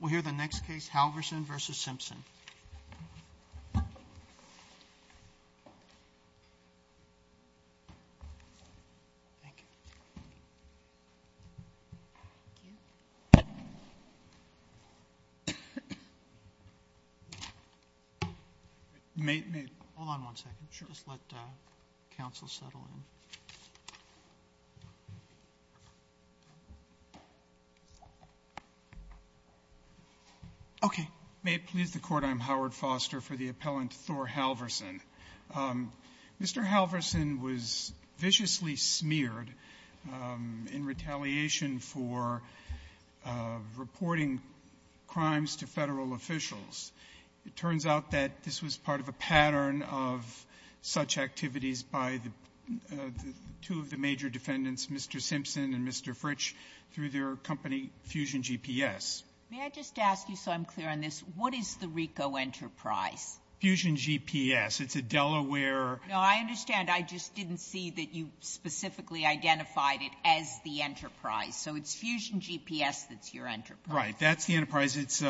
We will hear the next case, Halvorssen v. Simpson. Okay. Mr. Halvorssen, I'm Howard Foster for the appellant Thor Halvorssen. Mr. Halvorssen was viciously smeared in retaliation for reporting crimes to Federal officials. It turns out that this was part of a pattern of such activities by the two of the major defendants, Mr. Simpson and Mr. Fritsch, through their company Fusion GPS. May I just ask you, so I'm clear on this, what is the Ricoh Enterprise? Fusion GPS. It's a Delaware — No, I understand. I just didn't see that you specifically identified it as the enterprise. So it's Fusion GPS that's your enterprise. Right. That's the enterprise. It's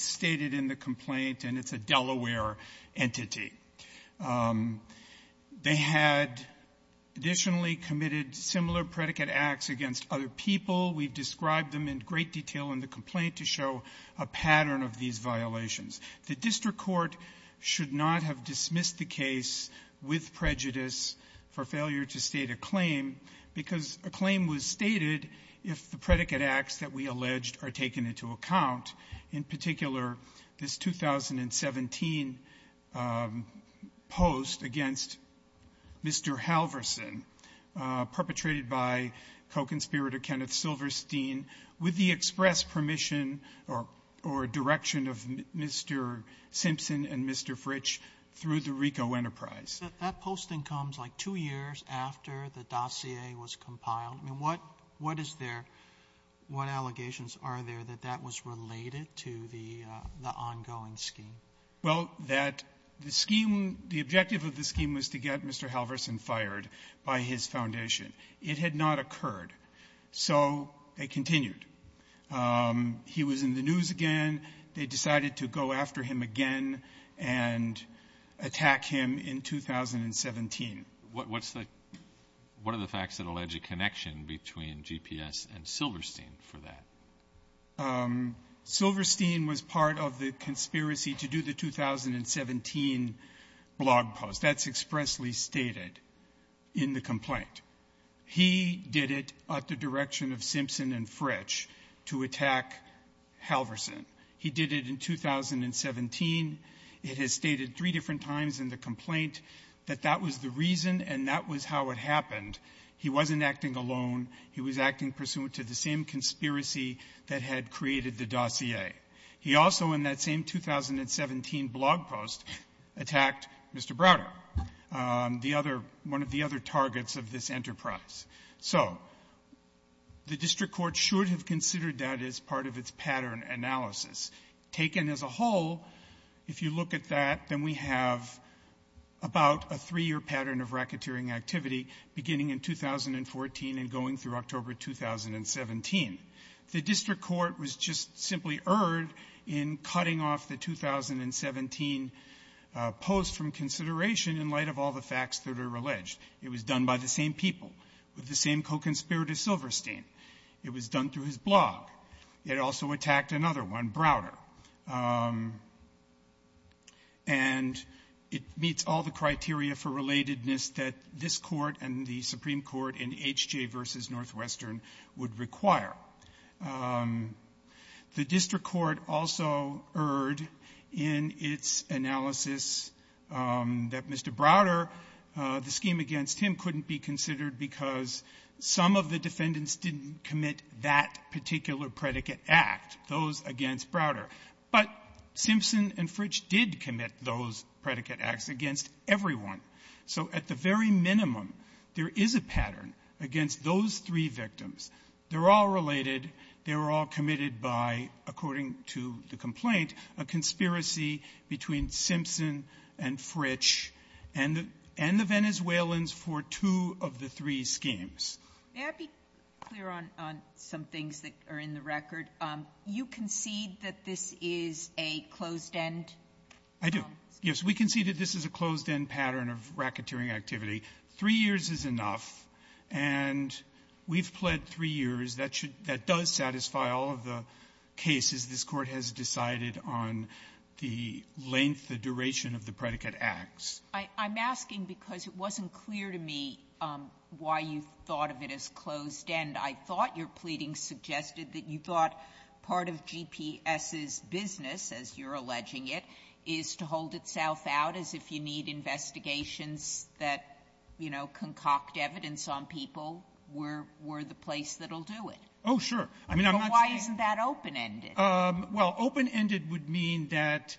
stated in the complaint, and it's a Delaware entity. They had additionally committed similar predicate acts against other people. We've described them in great detail in the complaint to show a pattern of these violations. The district court should not have dismissed the case with prejudice for failure to state a claim because a claim was stated if the predicate acts that we alleged are taken into account, in particular, this 2017 post against Mr. Halverson, perpetrated by co-conspirator Kenneth Silverstein, with the express permission or direction of Mr. Simpson and Mr. Fritsch through the Ricoh Enterprise. So that posting comes like two years after the dossier was compiled. I mean, what is there — what allegations are there that that was related to the ongoing scheme? Well, that the scheme — the objective of the scheme was to get Mr. Halverson fired by his foundation. It had not occurred. So they continued. He was in the news again. They decided to go after him again and attack him in 2017. What's the — what are the facts that allege a connection between GPS and Silverstein for that? Silverstein was part of the conspiracy to do the 2017 blog post. That's expressly stated in the complaint. He did it at the direction of Simpson and Fritsch to attack Halverson. He did it in 2017. It is stated three different times in the complaint that that was the reason and that was how it happened. He wasn't acting alone. He was acting pursuant to the same conspiracy that had created the dossier. He also, in that same 2017 blog post, attacked Mr. Browder, the other — one of the other targets of this enterprise. So the district court should have considered that as part of its pattern analysis. Taken as a whole, if you look at that, then we have about a three-year pattern of 2017. The district court was just simply erred in cutting off the 2017 post from consideration in light of all the facts that are alleged. It was done by the same people with the same co-conspirator Silverstein. It was done through his blog. It also attacked another one, Browder. And it meets all the criteria for relatedness that this Court and the Supreme Court in H.J. v. Northwestern would require. The district court also erred in its analysis that Mr. Browder, the scheme against him couldn't be considered because some of the defendants didn't commit that particular predicate act, those against Browder. But Simpson and Fritsch did commit those three victims. At the very minimum, there is a pattern against those three victims. They're all related. They were all committed by, according to the complaint, a conspiracy between Simpson and Fritsch and the — and the Venezuelans for two of the three schemes. May I be clear on some things that are in the record? You concede that this is a closed-end I do. Yes. We concede that this is a closed-end pattern of racketeering activity. Three years is enough. And we've pled three years. That should — that does satisfy all of the cases this Court has decided on the length, the duration of the predicate acts. I'm asking because it wasn't clear to me why you thought of it as closed-end. I thought your pleading suggested that you thought part of GPS's business, as you're saying, is to hold itself out as if you need investigations that, you know, concoct evidence on people. We're — we're the place that'll do it. Oh, sure. I mean, I'm not saying — But why isn't that open-ended? Well, open-ended would mean that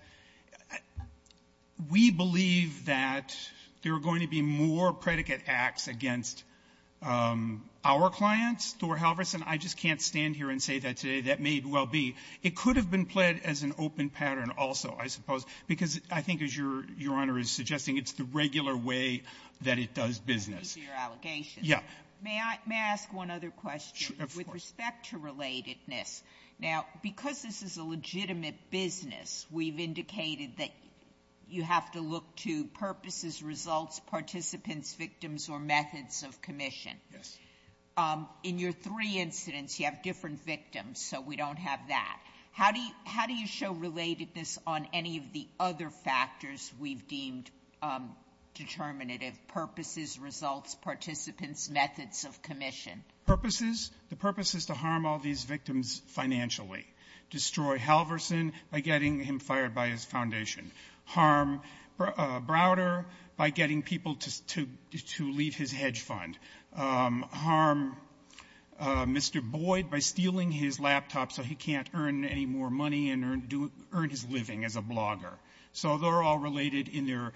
we believe that there are going to be more predicate acts against our clients. Thor Halverson, I just can't stand here and say that today. That may well be. It could have been pled as an open pattern also, I suppose, because I think, as Your Honor is suggesting, it's the regular way that it does business. That's your allegation. Yeah. May I — may I ask one other question with respect to relatedness? Now, because this is a legitimate business, we've indicated that you have to look to purposes, results, participants, victims, or methods of commission. Yes. In your three incidents, you have different victims, so we don't have that. How do you — how do you show relatedness on any of the other factors we've deemed determinative — purposes, results, participants, methods of commission? Purposes? The purpose is to harm all these victims financially. Destroy Halverson by getting him fired by his foundation. Harm Browder by getting people to — to leave his hedge fund. Harm Mr. Boyd by stealing his laptop so he can't earn any more money and earn — earn his living as a blogger. So they're all related in their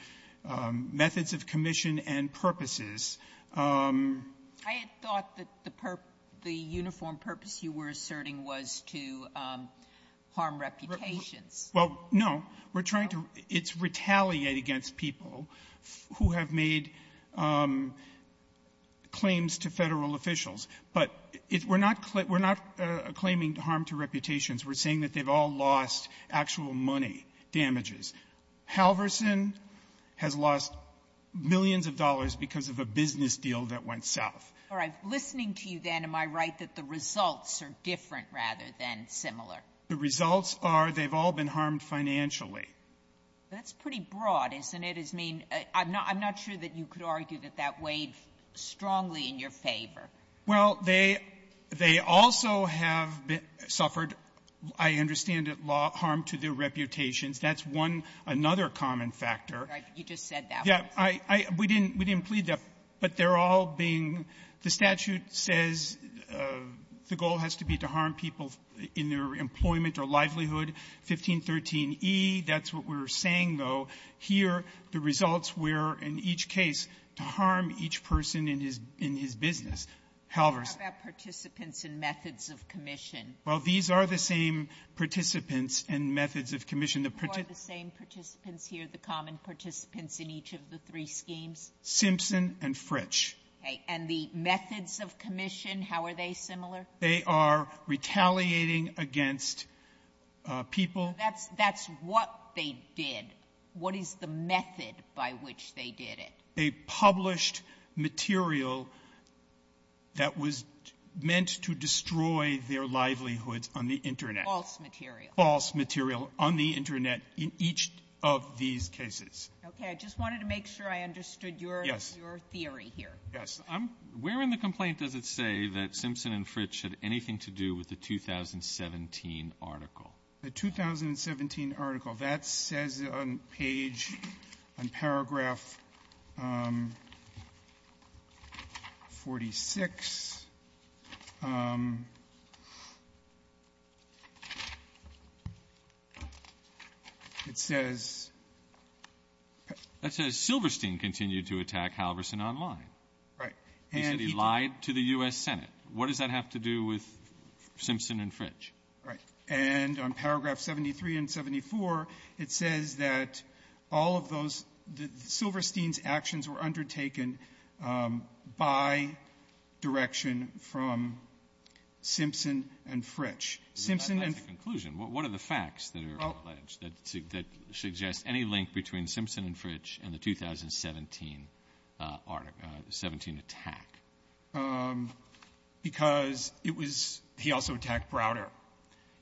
methods of commission and purposes. I had thought that the — the uniform purpose you were asserting was to harm reputations. Well, no. We're trying to — it's retaliate against people who have made claims to Federal officials, but it — we're not — we're not claiming harm to reputations. We're saying that they've all lost actual money, damages. Halverson has lost millions of dollars because of a business deal that went south. All right. Listening to you then, am I right that the results are different rather than similar? The results are they've all been harmed financially. That's pretty broad, isn't it? I mean, I'm not — I'm not sure that you could argue that that weighed strongly in your favor. Well, they — they also have been — suffered, I understand it, harm to their reputations. That's one — another common factor. Right. You just said that. Yeah. I — I — we didn't — we didn't plead that, but they're all being — the statute says the goal has to be to harm people in their employment or livelihood. 1513e, that's what we're saying, though. Here, the results were, in each case, to harm each person in his — in his business. Halverson — What about participants in methods of commission? Well, these are the same participants in methods of commission. The — Who are the same participants here, the common participants in each of the three schemes? Simpson and Fritch. Okay. And the methods of commission, how are they similar? They are retaliating against people. That's — that's what they did. What is the method by which they did it? They published material that was meant to destroy their livelihoods on the Internet. False material. False material on the Internet in each of these cases. Okay. I just wanted to make sure I understood your — Yes. — your theory here. Yes. I'm — where in the complaint does it say that Simpson and Fritch had anything to do with the 2017 article? The 2017 article. That says on page — on paragraph 46, it says — Okay. That says Silverstein continued to attack Halverson online. Right. And he lied to the U.S. Senate. What does that have to do with Simpson and Fritch? Right. And on paragraph 73 and 74, it says that all of those — that Silverstein's actions were undertaken by direction from Simpson and Fritch. Simpson and — What are the facts that are alleged that suggest any link between Simpson and Fritch and the 2017 article — the 2017 attack? Because it was — he also attacked Browder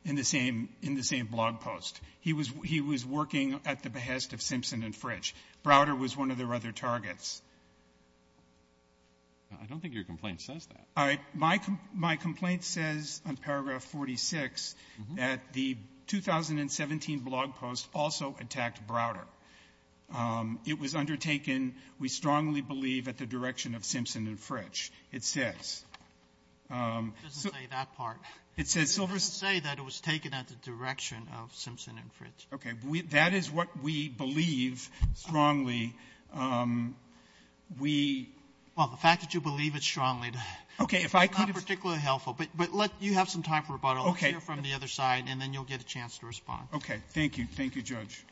in the same — in the same blog post. He was — he was working at the behest of Simpson and Fritch. Browder was one of their other targets. I don't think your complaint says that. All right. My — my complaint says on paragraph 46 that the 2017 blog post also attacked Browder. It was undertaken, we strongly believe, at the direction of Simpson and Fritch. It says — It doesn't say that part. It says — It doesn't say that it was taken at the direction of Simpson and Fritch. Okay. That is what we believe strongly. We — Well, the fact that you believe it strongly — Okay. If I could — It's not particularly helpful. But — but let — you have some time for rebuttal. Okay. Let's hear from the other side, and then you'll get a chance to respond. Okay. Thank you. Thank you, Judge.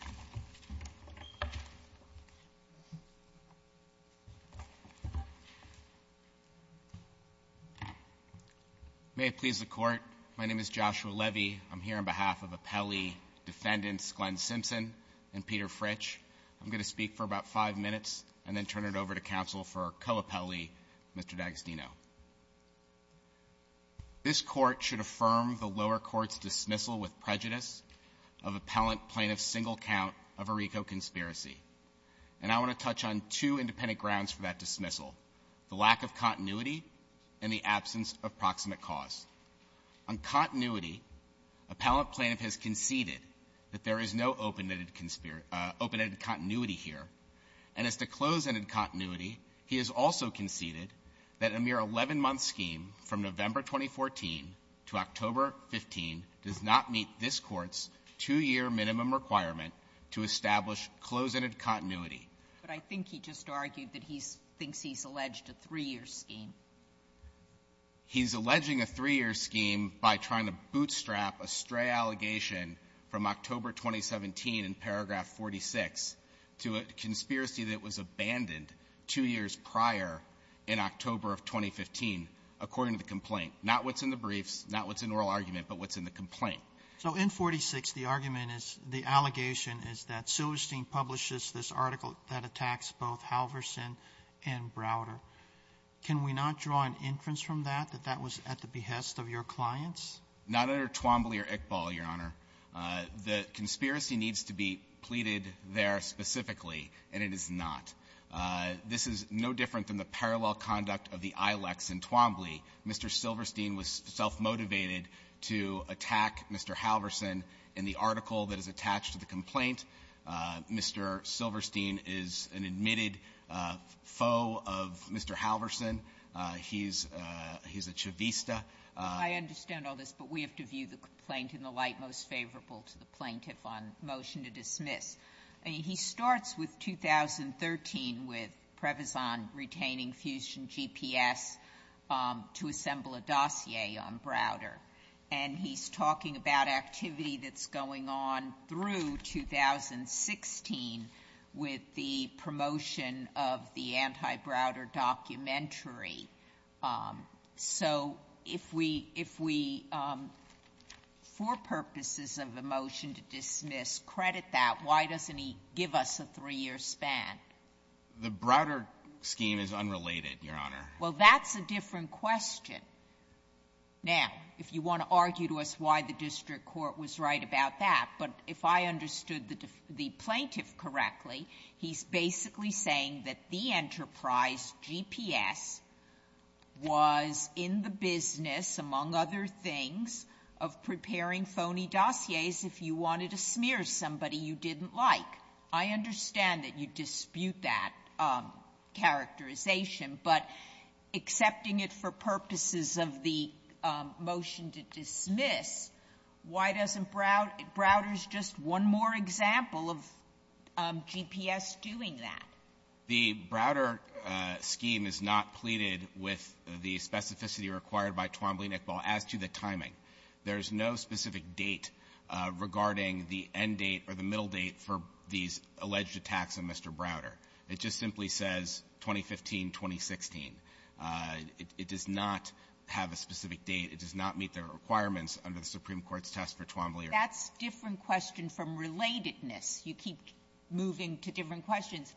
May it please the Court, my name is Joshua Levy. I'm here on behalf of appellee defendants Glenn Simpson and Peter Fritch. I'm going to speak for about five minutes and then turn it over to counsel for co-appellee Mr. D'Agostino. This Court should affirm the lower court's dismissal with prejudice of appellant plaintiff for a single count of a RICO conspiracy. And I want to touch on two independent grounds for that dismissal, the lack of continuity and the absence of proximate cause. On continuity, appellant plaintiff has conceded that there is no open-ended — open-ended continuity here. And as to close-ended continuity, he has also conceded that a mere 11-month scheme from establish close-ended continuity. But I think he just argued that he thinks he's alleged a three-year scheme. He's alleging a three-year scheme by trying to bootstrap a stray allegation from October 2017 in paragraph 46 to a conspiracy that was abandoned two years prior in October of 2015, according to the complaint. Not what's in the briefs, not what's in the oral argument, but what's in the complaint. So in 46, the argument is — the allegation is that Silverstein publishes this article that attacks both Halverson and Browder. Can we not draw an inference from that that that was at the behest of your clients? Not under Twombly or Iqbal, Your Honor. The conspiracy needs to be pleaded there specifically, and it is not. This is no different than the parallel conduct of the Ilex in Twombly. Mr. Silverstein was self-motivated to attack Mr. Halverson in the article that is attached to the complaint. Mr. Silverstein is an admitted foe of Mr. Halverson. He's a chavista. I understand all this, but we have to view the complaint in the light most favorable to the plaintiff on motion to dismiss. He starts with 2013 with Previzan retaining Fusion GPS to assemble a dossier on Browder. And he's talking about activity that's going on through 2016 with the promotion of the anti-Browder documentary. So if we, for purposes of a motion to dismiss, credit that, why doesn't he give us a three-year span? The Browder scheme is unrelated, Your Honor. Well, that's a different question. Now, if you want to argue to us why the district court was right about that, but if I understood the plaintiff correctly, he's basically saying that the Enterprise GPS was in the business, among other things, of preparing phony dossiers if you wanted to smear somebody you didn't like. I understand that you dispute that characterization, but accepting it for purposes of the motion to dismiss, why doesn't Browder — Browder's just one more example of GPS doing that. The Browder scheme is not pleaded with the specificity required by Twombly-Nickball as to the timing. There's no specific date regarding the end date or the middle date for these alleged attacks on Mr. Browder. It just simply says 2015-2016. It does not have a specific date. It does not meet the requirements under the Supreme Court's test for Twombly-Nickball. Sotomayor, that's a different question from relatedness. You keep moving to different questions.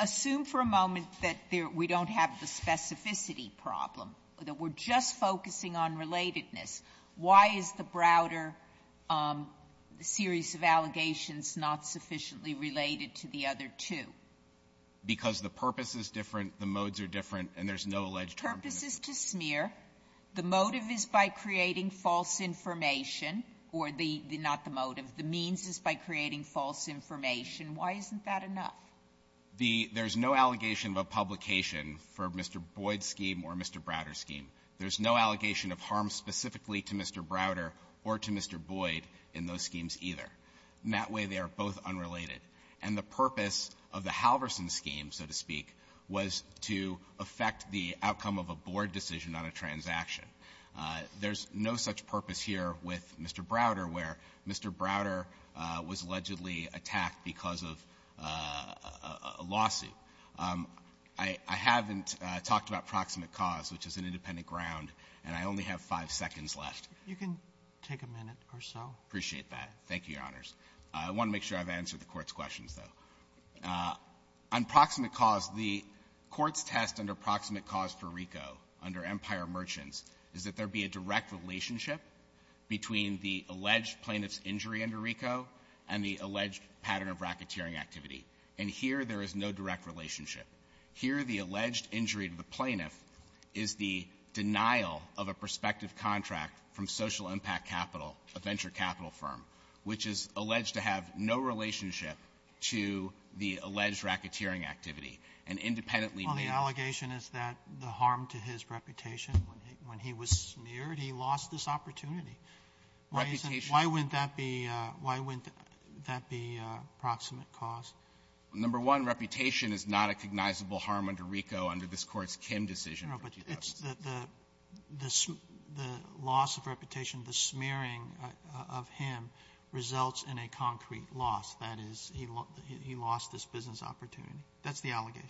Assume for a moment that there — we don't have the specificity problem, that we're just focusing on relatedness. Why is the Browder series of allegations not sufficiently related to the other two? Because the purpose is different, the modes are different, and there's no alleged term for them. The purpose is to smear. The motive is by creating false information, or the — not the motive. The means is by creating false information. Why isn't that enough? The — there's no allegation of a publication for Mr. Boyd's scheme or Mr. Browder's scheme. There's no allegation of harm specifically to Mr. Browder or to Mr. Boyd in those schemes either. In that way, they are both unrelated. And the purpose of the Halverson scheme, so to speak, was to affect the outcome of a board decision on a transaction. There's no such purpose here with Mr. Browder, where Mr. Browder was allegedly attacked because of a lawsuit. I haven't talked about proximate cause, which is an independent ground, and I only have five seconds left. Roberts. You can take a minute or so. I appreciate that. Thank you, Your Honors. I want to make sure I've answered the Court's questions, though. On proximate cause, the Court's test under proximate cause for RICO under Empire Merchants is that there be a direct relationship between the alleged plaintiff's injury under RICO and the alleged pattern of racketeering activity. And here, there is no direct relationship. Here, the alleged injury to the plaintiff is the denial of a prospective contract from Social Impact Capital, a venture capital firm, which is alleged to have no relationship to the alleged racketeering activity. And independently ---- Well, the allegation is that the harm to his reputation, when he was smeared, he lost this opportunity. Reputation ---- Why isn't that be a why wouldn't that be a proximate cause? Number one, reputation is not a cognizable harm under RICO under this Court's Kim decision. No, but it's the the the loss of reputation, the smearing of him, results in a concrete loss. That is, he lost this business opportunity. That's the allegation.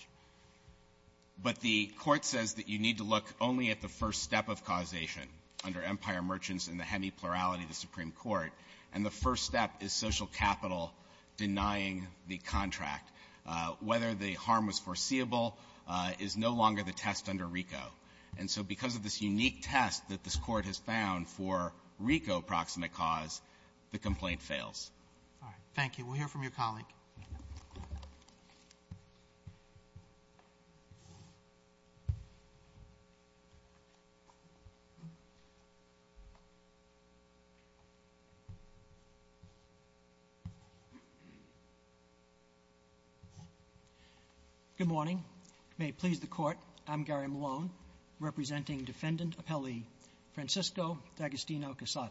But the Court says that you need to look only at the first step of causation under Empire Merchants in the hemi-plurality of the Supreme Court, and the first step is Social Capital denying the contract. Whether the harm was foreseeable is no longer the test under RICO. And so because of this unique test that this Court has found for RICO proximate cause, the complaint fails. Thank you. We'll hear from your colleague. Good morning. May it please the Court, I'm Gary Malone, representing Defendant Appellee Francisco D'Agostino-Casado.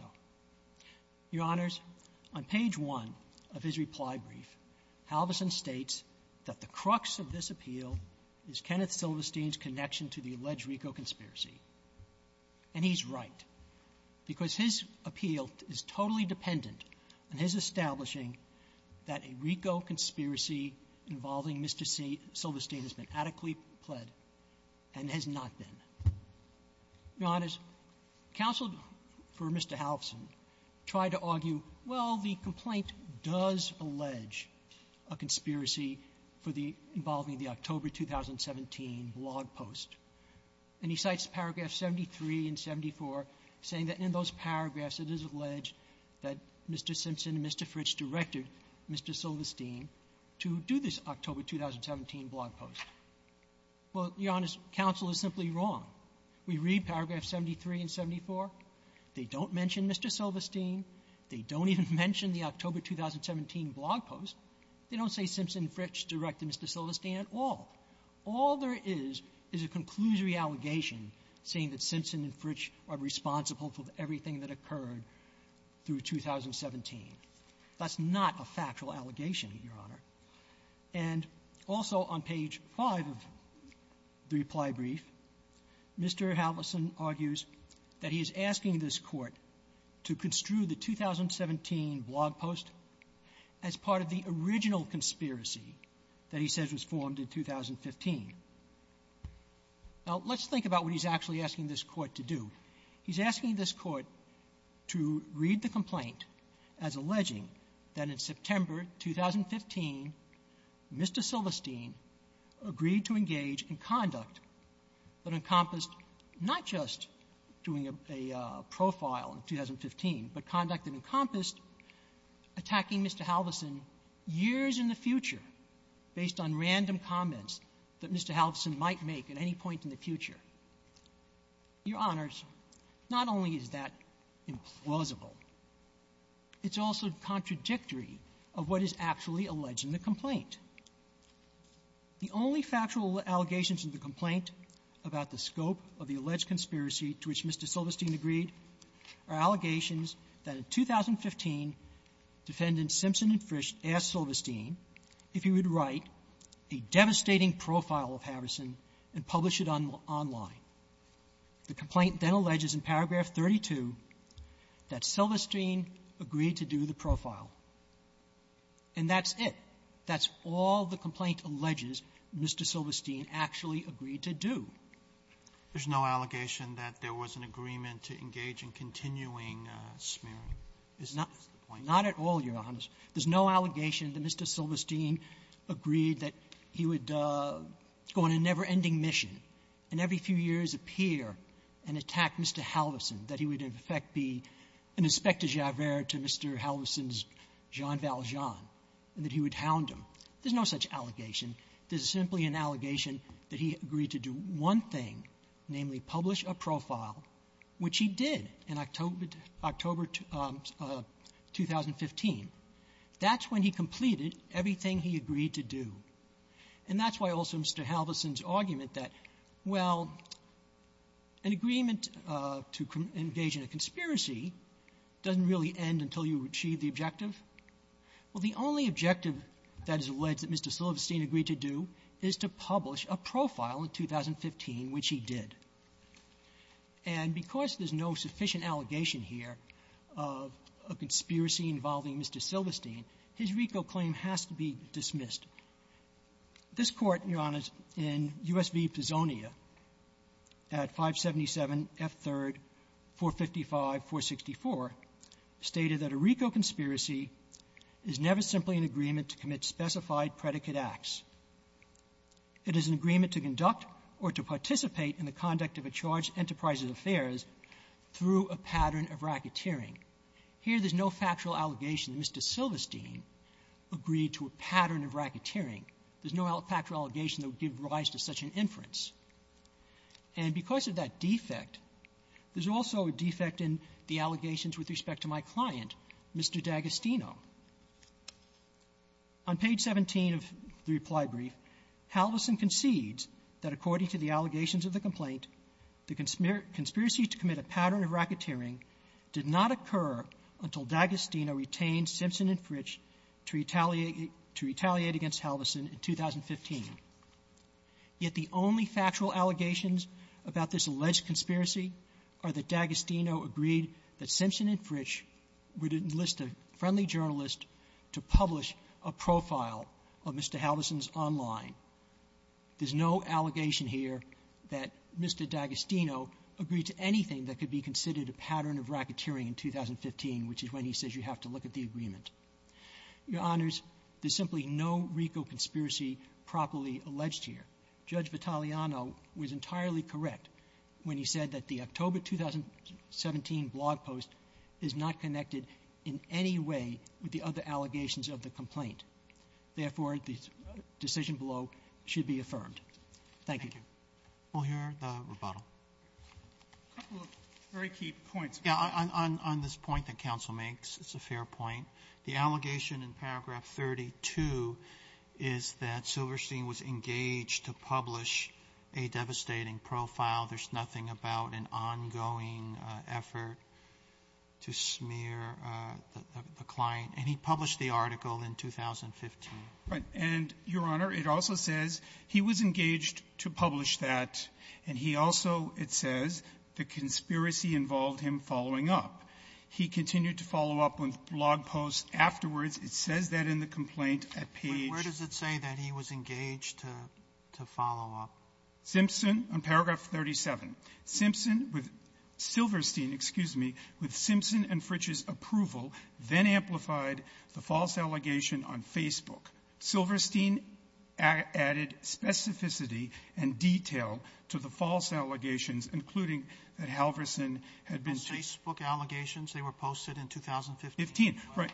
Your Honors, on page 1 of his reply brief, Halverson states that the crux of this appeal is Kenneth Silverstein's connection to the alleged RICO conspiracy. And he's right, because his appeal is totally dependent on his establishing that a RICO conspiracy involving Mr. Silverstein has been adequately pled and has not been. Your Honors, counsel for Mr. Halverson tried to argue, well, the complaint does allege a conspiracy for the — involving the October 2017 blog post. And he cites paragraphs 73 and 74, saying that in those paragraphs it is alleged that Mr. Simpson and Mr. Fritch directed Mr. Silverstein to do this October 2017 blog post. Well, Your Honors, counsel is simply wrong. We read paragraph 73 and 74. They don't mention Mr. Silverstein. They don't even mention the October 2017 blog post. They don't say Simpson and Fritch directed Mr. Silverstein at all. All there is, is a conclusory allegation saying that Simpson and Fritch are responsible for everything that occurred through 2017. That's not a factual allegation, Your Honor. And also on page 5 of the reply brief, Mr. Halverson argues that he is asking this court to construe the 2017 blog post as part of the original conspiracy that he says was formed in 2015. Now, let's think about what he's actually asking this court to do. He's asking this court to read the complaint as alleging that in September 2015, Mr. Silverstein agreed to engage in conduct that encompassed not just doing a profile in 2015, but conduct that encompassed attacking Mr. Halverson years in the future based on random comments that Mr. Halverson might make at any point in the future. Your Honors, not only is that implausible, it's also contradictory of what is actually alleged in the complaint. The only factual allegations in the complaint about the scope of the alleged conspiracy to which Mr. Silverstein agreed are allegations that in 2015, Defendant Simpson and Fritch asked Silverstein if he would write a devastating profile of Halverson and publish it online. The complaint then alleges in paragraph 32 that Silverstein agreed to do the profile. And that's it. That's all the complaint alleges Mr. Silverstein actually agreed to do. There's no allegation that there was an agreement to engage in continuing smearing. That's the point. Not at all, Your Honors. There's no allegation that Mr. Silverstein agreed that he would go on a never-ending mission and every few years appear and attack Mr. Halverson, that he would, in effect, be an inspector-javert to Mr. Halverson's Jean Valjean, and that he would hound him. There's no such allegation. There's simply an allegation that he agreed to do one thing, namely publish a profile, which he did in October 2015. That's when he completed everything he agreed to do. And that's why also Mr. Halverson's argument that, well, an agreement to engage in a conspiracy doesn't really end until you achieve the objective. Well, the only objective that is alleged that Mr. Silverstein agreed to do is to publish a profile in 2015, which he did. And because there's no sufficient allegation here of a conspiracy involving Mr. Silverstein, his RICO claim has to be dismissed. This Court, Your Honors, in U.S. v. Pisonia at 577 F. 3rd, 455, 464, stated that a RICO conspiracy is never simply an agreement to commit specified predicate acts. It is an agreement to conduct or to participate in the conduct of a charged enterprise's affairs through a pattern of racketeering. Here there's no factual allegation that Mr. Silverstein agreed to a pattern of racketeering. There's no factual allegation that would give rise to such an inference. And because of that defect, there's also a defect in the allegations with respect to my client, Mr. D'Agostino. On page 17 of the reply brief, Halverson concedes that according to the allegations of the complaint, the conspiracy to commit a pattern of racketeering did not occur until D'Agostino retained Simpson and Fritch to retaliate against Halverson in 2015. Yet the only factual allegations about this alleged conspiracy are that D'Agostino agreed that Simpson and Fritch would enlist a friendly journalist to publish a profile of Mr. Halverson's online. There's no allegation here that Mr. D'Agostino agreed to anything that could be considered a pattern of racketeering in 2015, which is when he says you have to look at the agreement. Your Honors, there's simply no RICO conspiracy properly alleged here. Judge Vitaliano was entirely correct when he said that the October 2017 blog post is not connected in any way with the other allegations of the complaint. Therefore, the decision below should be affirmed. Thank you. We'll hear the rebuttal. A couple of very key points. Yeah. On this point that counsel makes, it's a fair point. The allegation in paragraph 32 is that Silverstein was engaged to publish a devastating profile. There's nothing about an ongoing effort to smear the client. And he published the article in 2015. Right. And, Your Honor, it also says he was engaged to publish that. And he also, it says, the conspiracy involved him following up. He continued to follow up on blog posts afterwards. It says that in the complaint at Page. But where does it say that he was engaged to follow up? Simpson, on paragraph 37. Simpson with Silverstein, excuse me, with Simpson and Fritch's approval, then amplified the false allegation on Facebook. Silverstein added specificity and detail to the false allegations, including that Halverson had been Facebook allegations. They were posted in 2015. Right.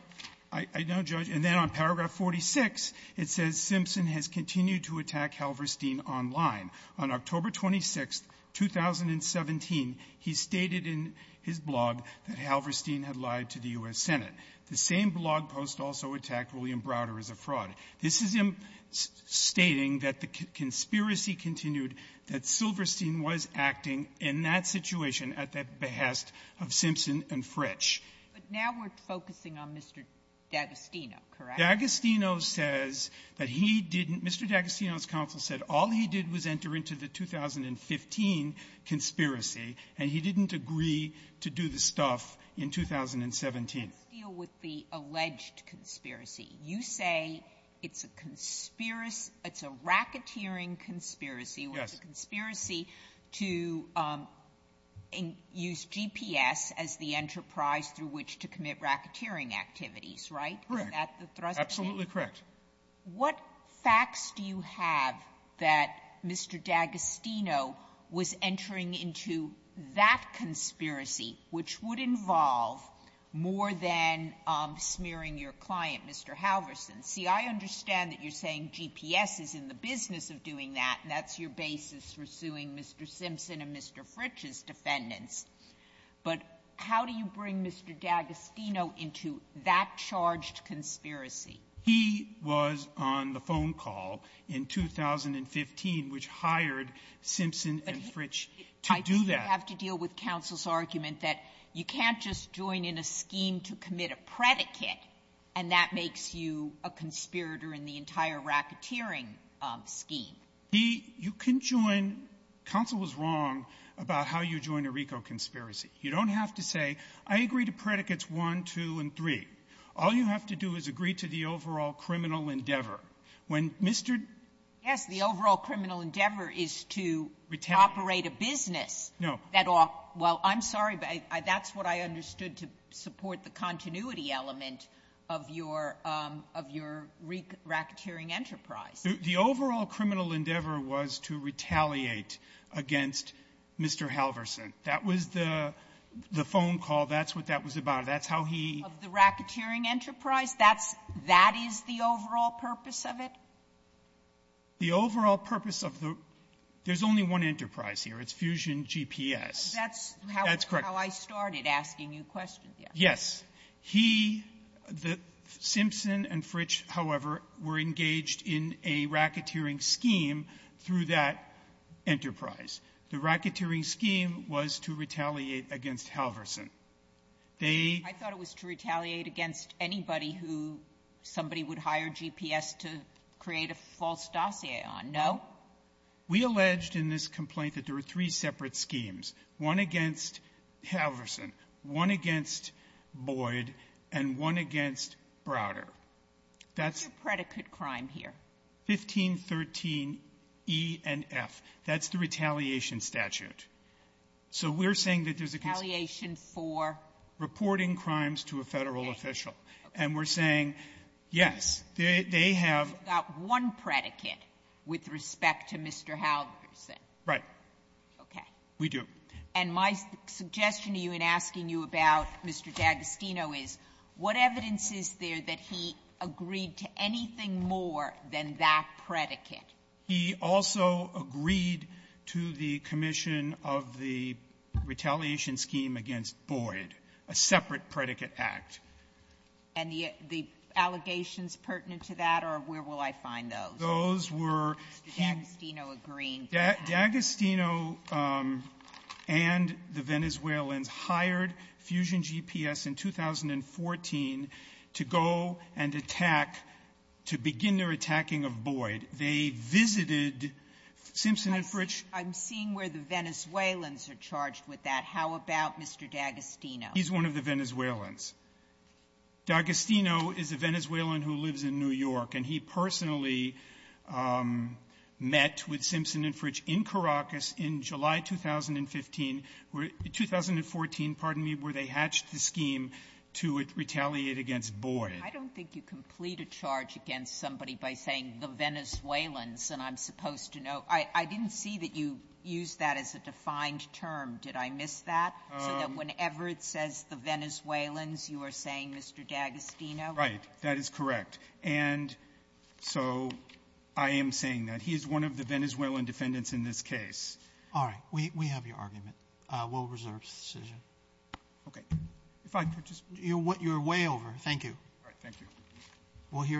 I know, Judge. And then on paragraph 46, it says Simpson has continued to attack Halverson online on October 26th, 2017. He stated in his blog that Halverson had lied to the U.S. Senate. The same blog post also attacked William Browder as a fraud. This is him stating that the conspiracy continued, that Silverstein was acting in that situation at the behest of Simpson and Fritch. But now we're focusing on Mr. D'Agostino, correct? D'Agostino says that he didn't. Mr. D'Agostino's counsel said all he did was enter into the 2015 conspiracy, and he didn't agree to do the stuff in 2017. When you deal with the alleged conspiracy, you say it's a conspiracy — it's a racketeering conspiracy. Yes. It's a conspiracy to use GPS as the enterprise through which to commit racketeering activities, right? Correct. Is that the thrust of it? Absolutely correct. What facts do you have that Mr. D'Agostino was entering into that conspiracy, which would involve more than smearing your client, Mr. Halverson? See, I understand that you're saying GPS is in the business of doing that, and that's your basis for suing Mr. Simpson and Mr. Fritch's defendants. But how do you bring Mr. D'Agostino into that charged conspiracy? He was on the phone call in 2015 which hired Simpson and Fritch to do that. I have to deal with counsel's argument that you can't just join in a scheme to commit a predicate, and that makes you a conspirator in the entire racketeering scheme. He — you can join — counsel was wrong about how you join a RICO conspiracy. You don't have to say, I agree to predicates 1, 2, and 3. All you have to do is agree to the overall criminal endeavor. When Mr. — Yes, the overall criminal endeavor is to — Retain —— operate a business. No. That all — well, I'm sorry, but that's what I understood to support the continuity element of your — of your racketeering enterprise. The overall criminal endeavor was to retaliate against Mr. Halverson. That was the phone call. That's what that was about. That's how he — Of the racketeering enterprise? That's — that is the overall purpose of it? The overall purpose of the — there's only one enterprise here. It's Fusion GPS. That's how — That's correct. — I started asking you questions yesterday. Yes. He — Simpson and Fritch, however, were engaged in a racketeering scheme through that enterprise. The racketeering scheme was to retaliate against Halverson. They — I thought it was to retaliate against anybody who somebody would hire GPS to create a false dossier on. No? We alleged in this complaint that there were three separate schemes, one against Halverson, one against Boyd, and one against Browder. That's — What's your predicate crime here? 1513e and f. That's the retaliation statute. So we're saying that there's a case — Retaliation for? Reporting crimes to a Federal official. Okay. And we're saying, yes, they have — You've got one predicate with respect to Mr. Halverson. Right. Okay. We do. And my suggestion to you in asking you about Mr. D'Agostino is, what evidence is there that he agreed to anything more than that predicate? He also agreed to the commission of the retaliation scheme against Boyd, a separate predicate act. And the allegations pertinent to that are, where will I find those? Those were — Mr. D'Agostino agreeing to that. D'Agostino and the Venezuelans hired Fusion GPS in 2014 to go and attack, to begin their attacking of Boyd. They visited Simpson and Fritsch. I'm seeing where the Venezuelans are charged with that. How about Mr. D'Agostino? He's one of the Venezuelans. D'Agostino is a Venezuelan who lives in New York. And he personally met with Simpson and Fritsch in Caracas in July 2015 — 2014, pardon me, where they hatched the scheme to retaliate against Boyd. I don't think you complete a charge against somebody by saying the Venezuelans. And I'm supposed to know — I didn't see that you used that as a defined term. Did I miss that? So that whenever it says the Venezuelans, you are saying Mr. D'Agostino? Right. That is correct. And so I am saying that. He is one of the Venezuelan defendants in this case. All right. We have your argument. We'll reserve the decision. Okay. If I could just — You're way over. Thank you. All right. Thank you. We'll hear the —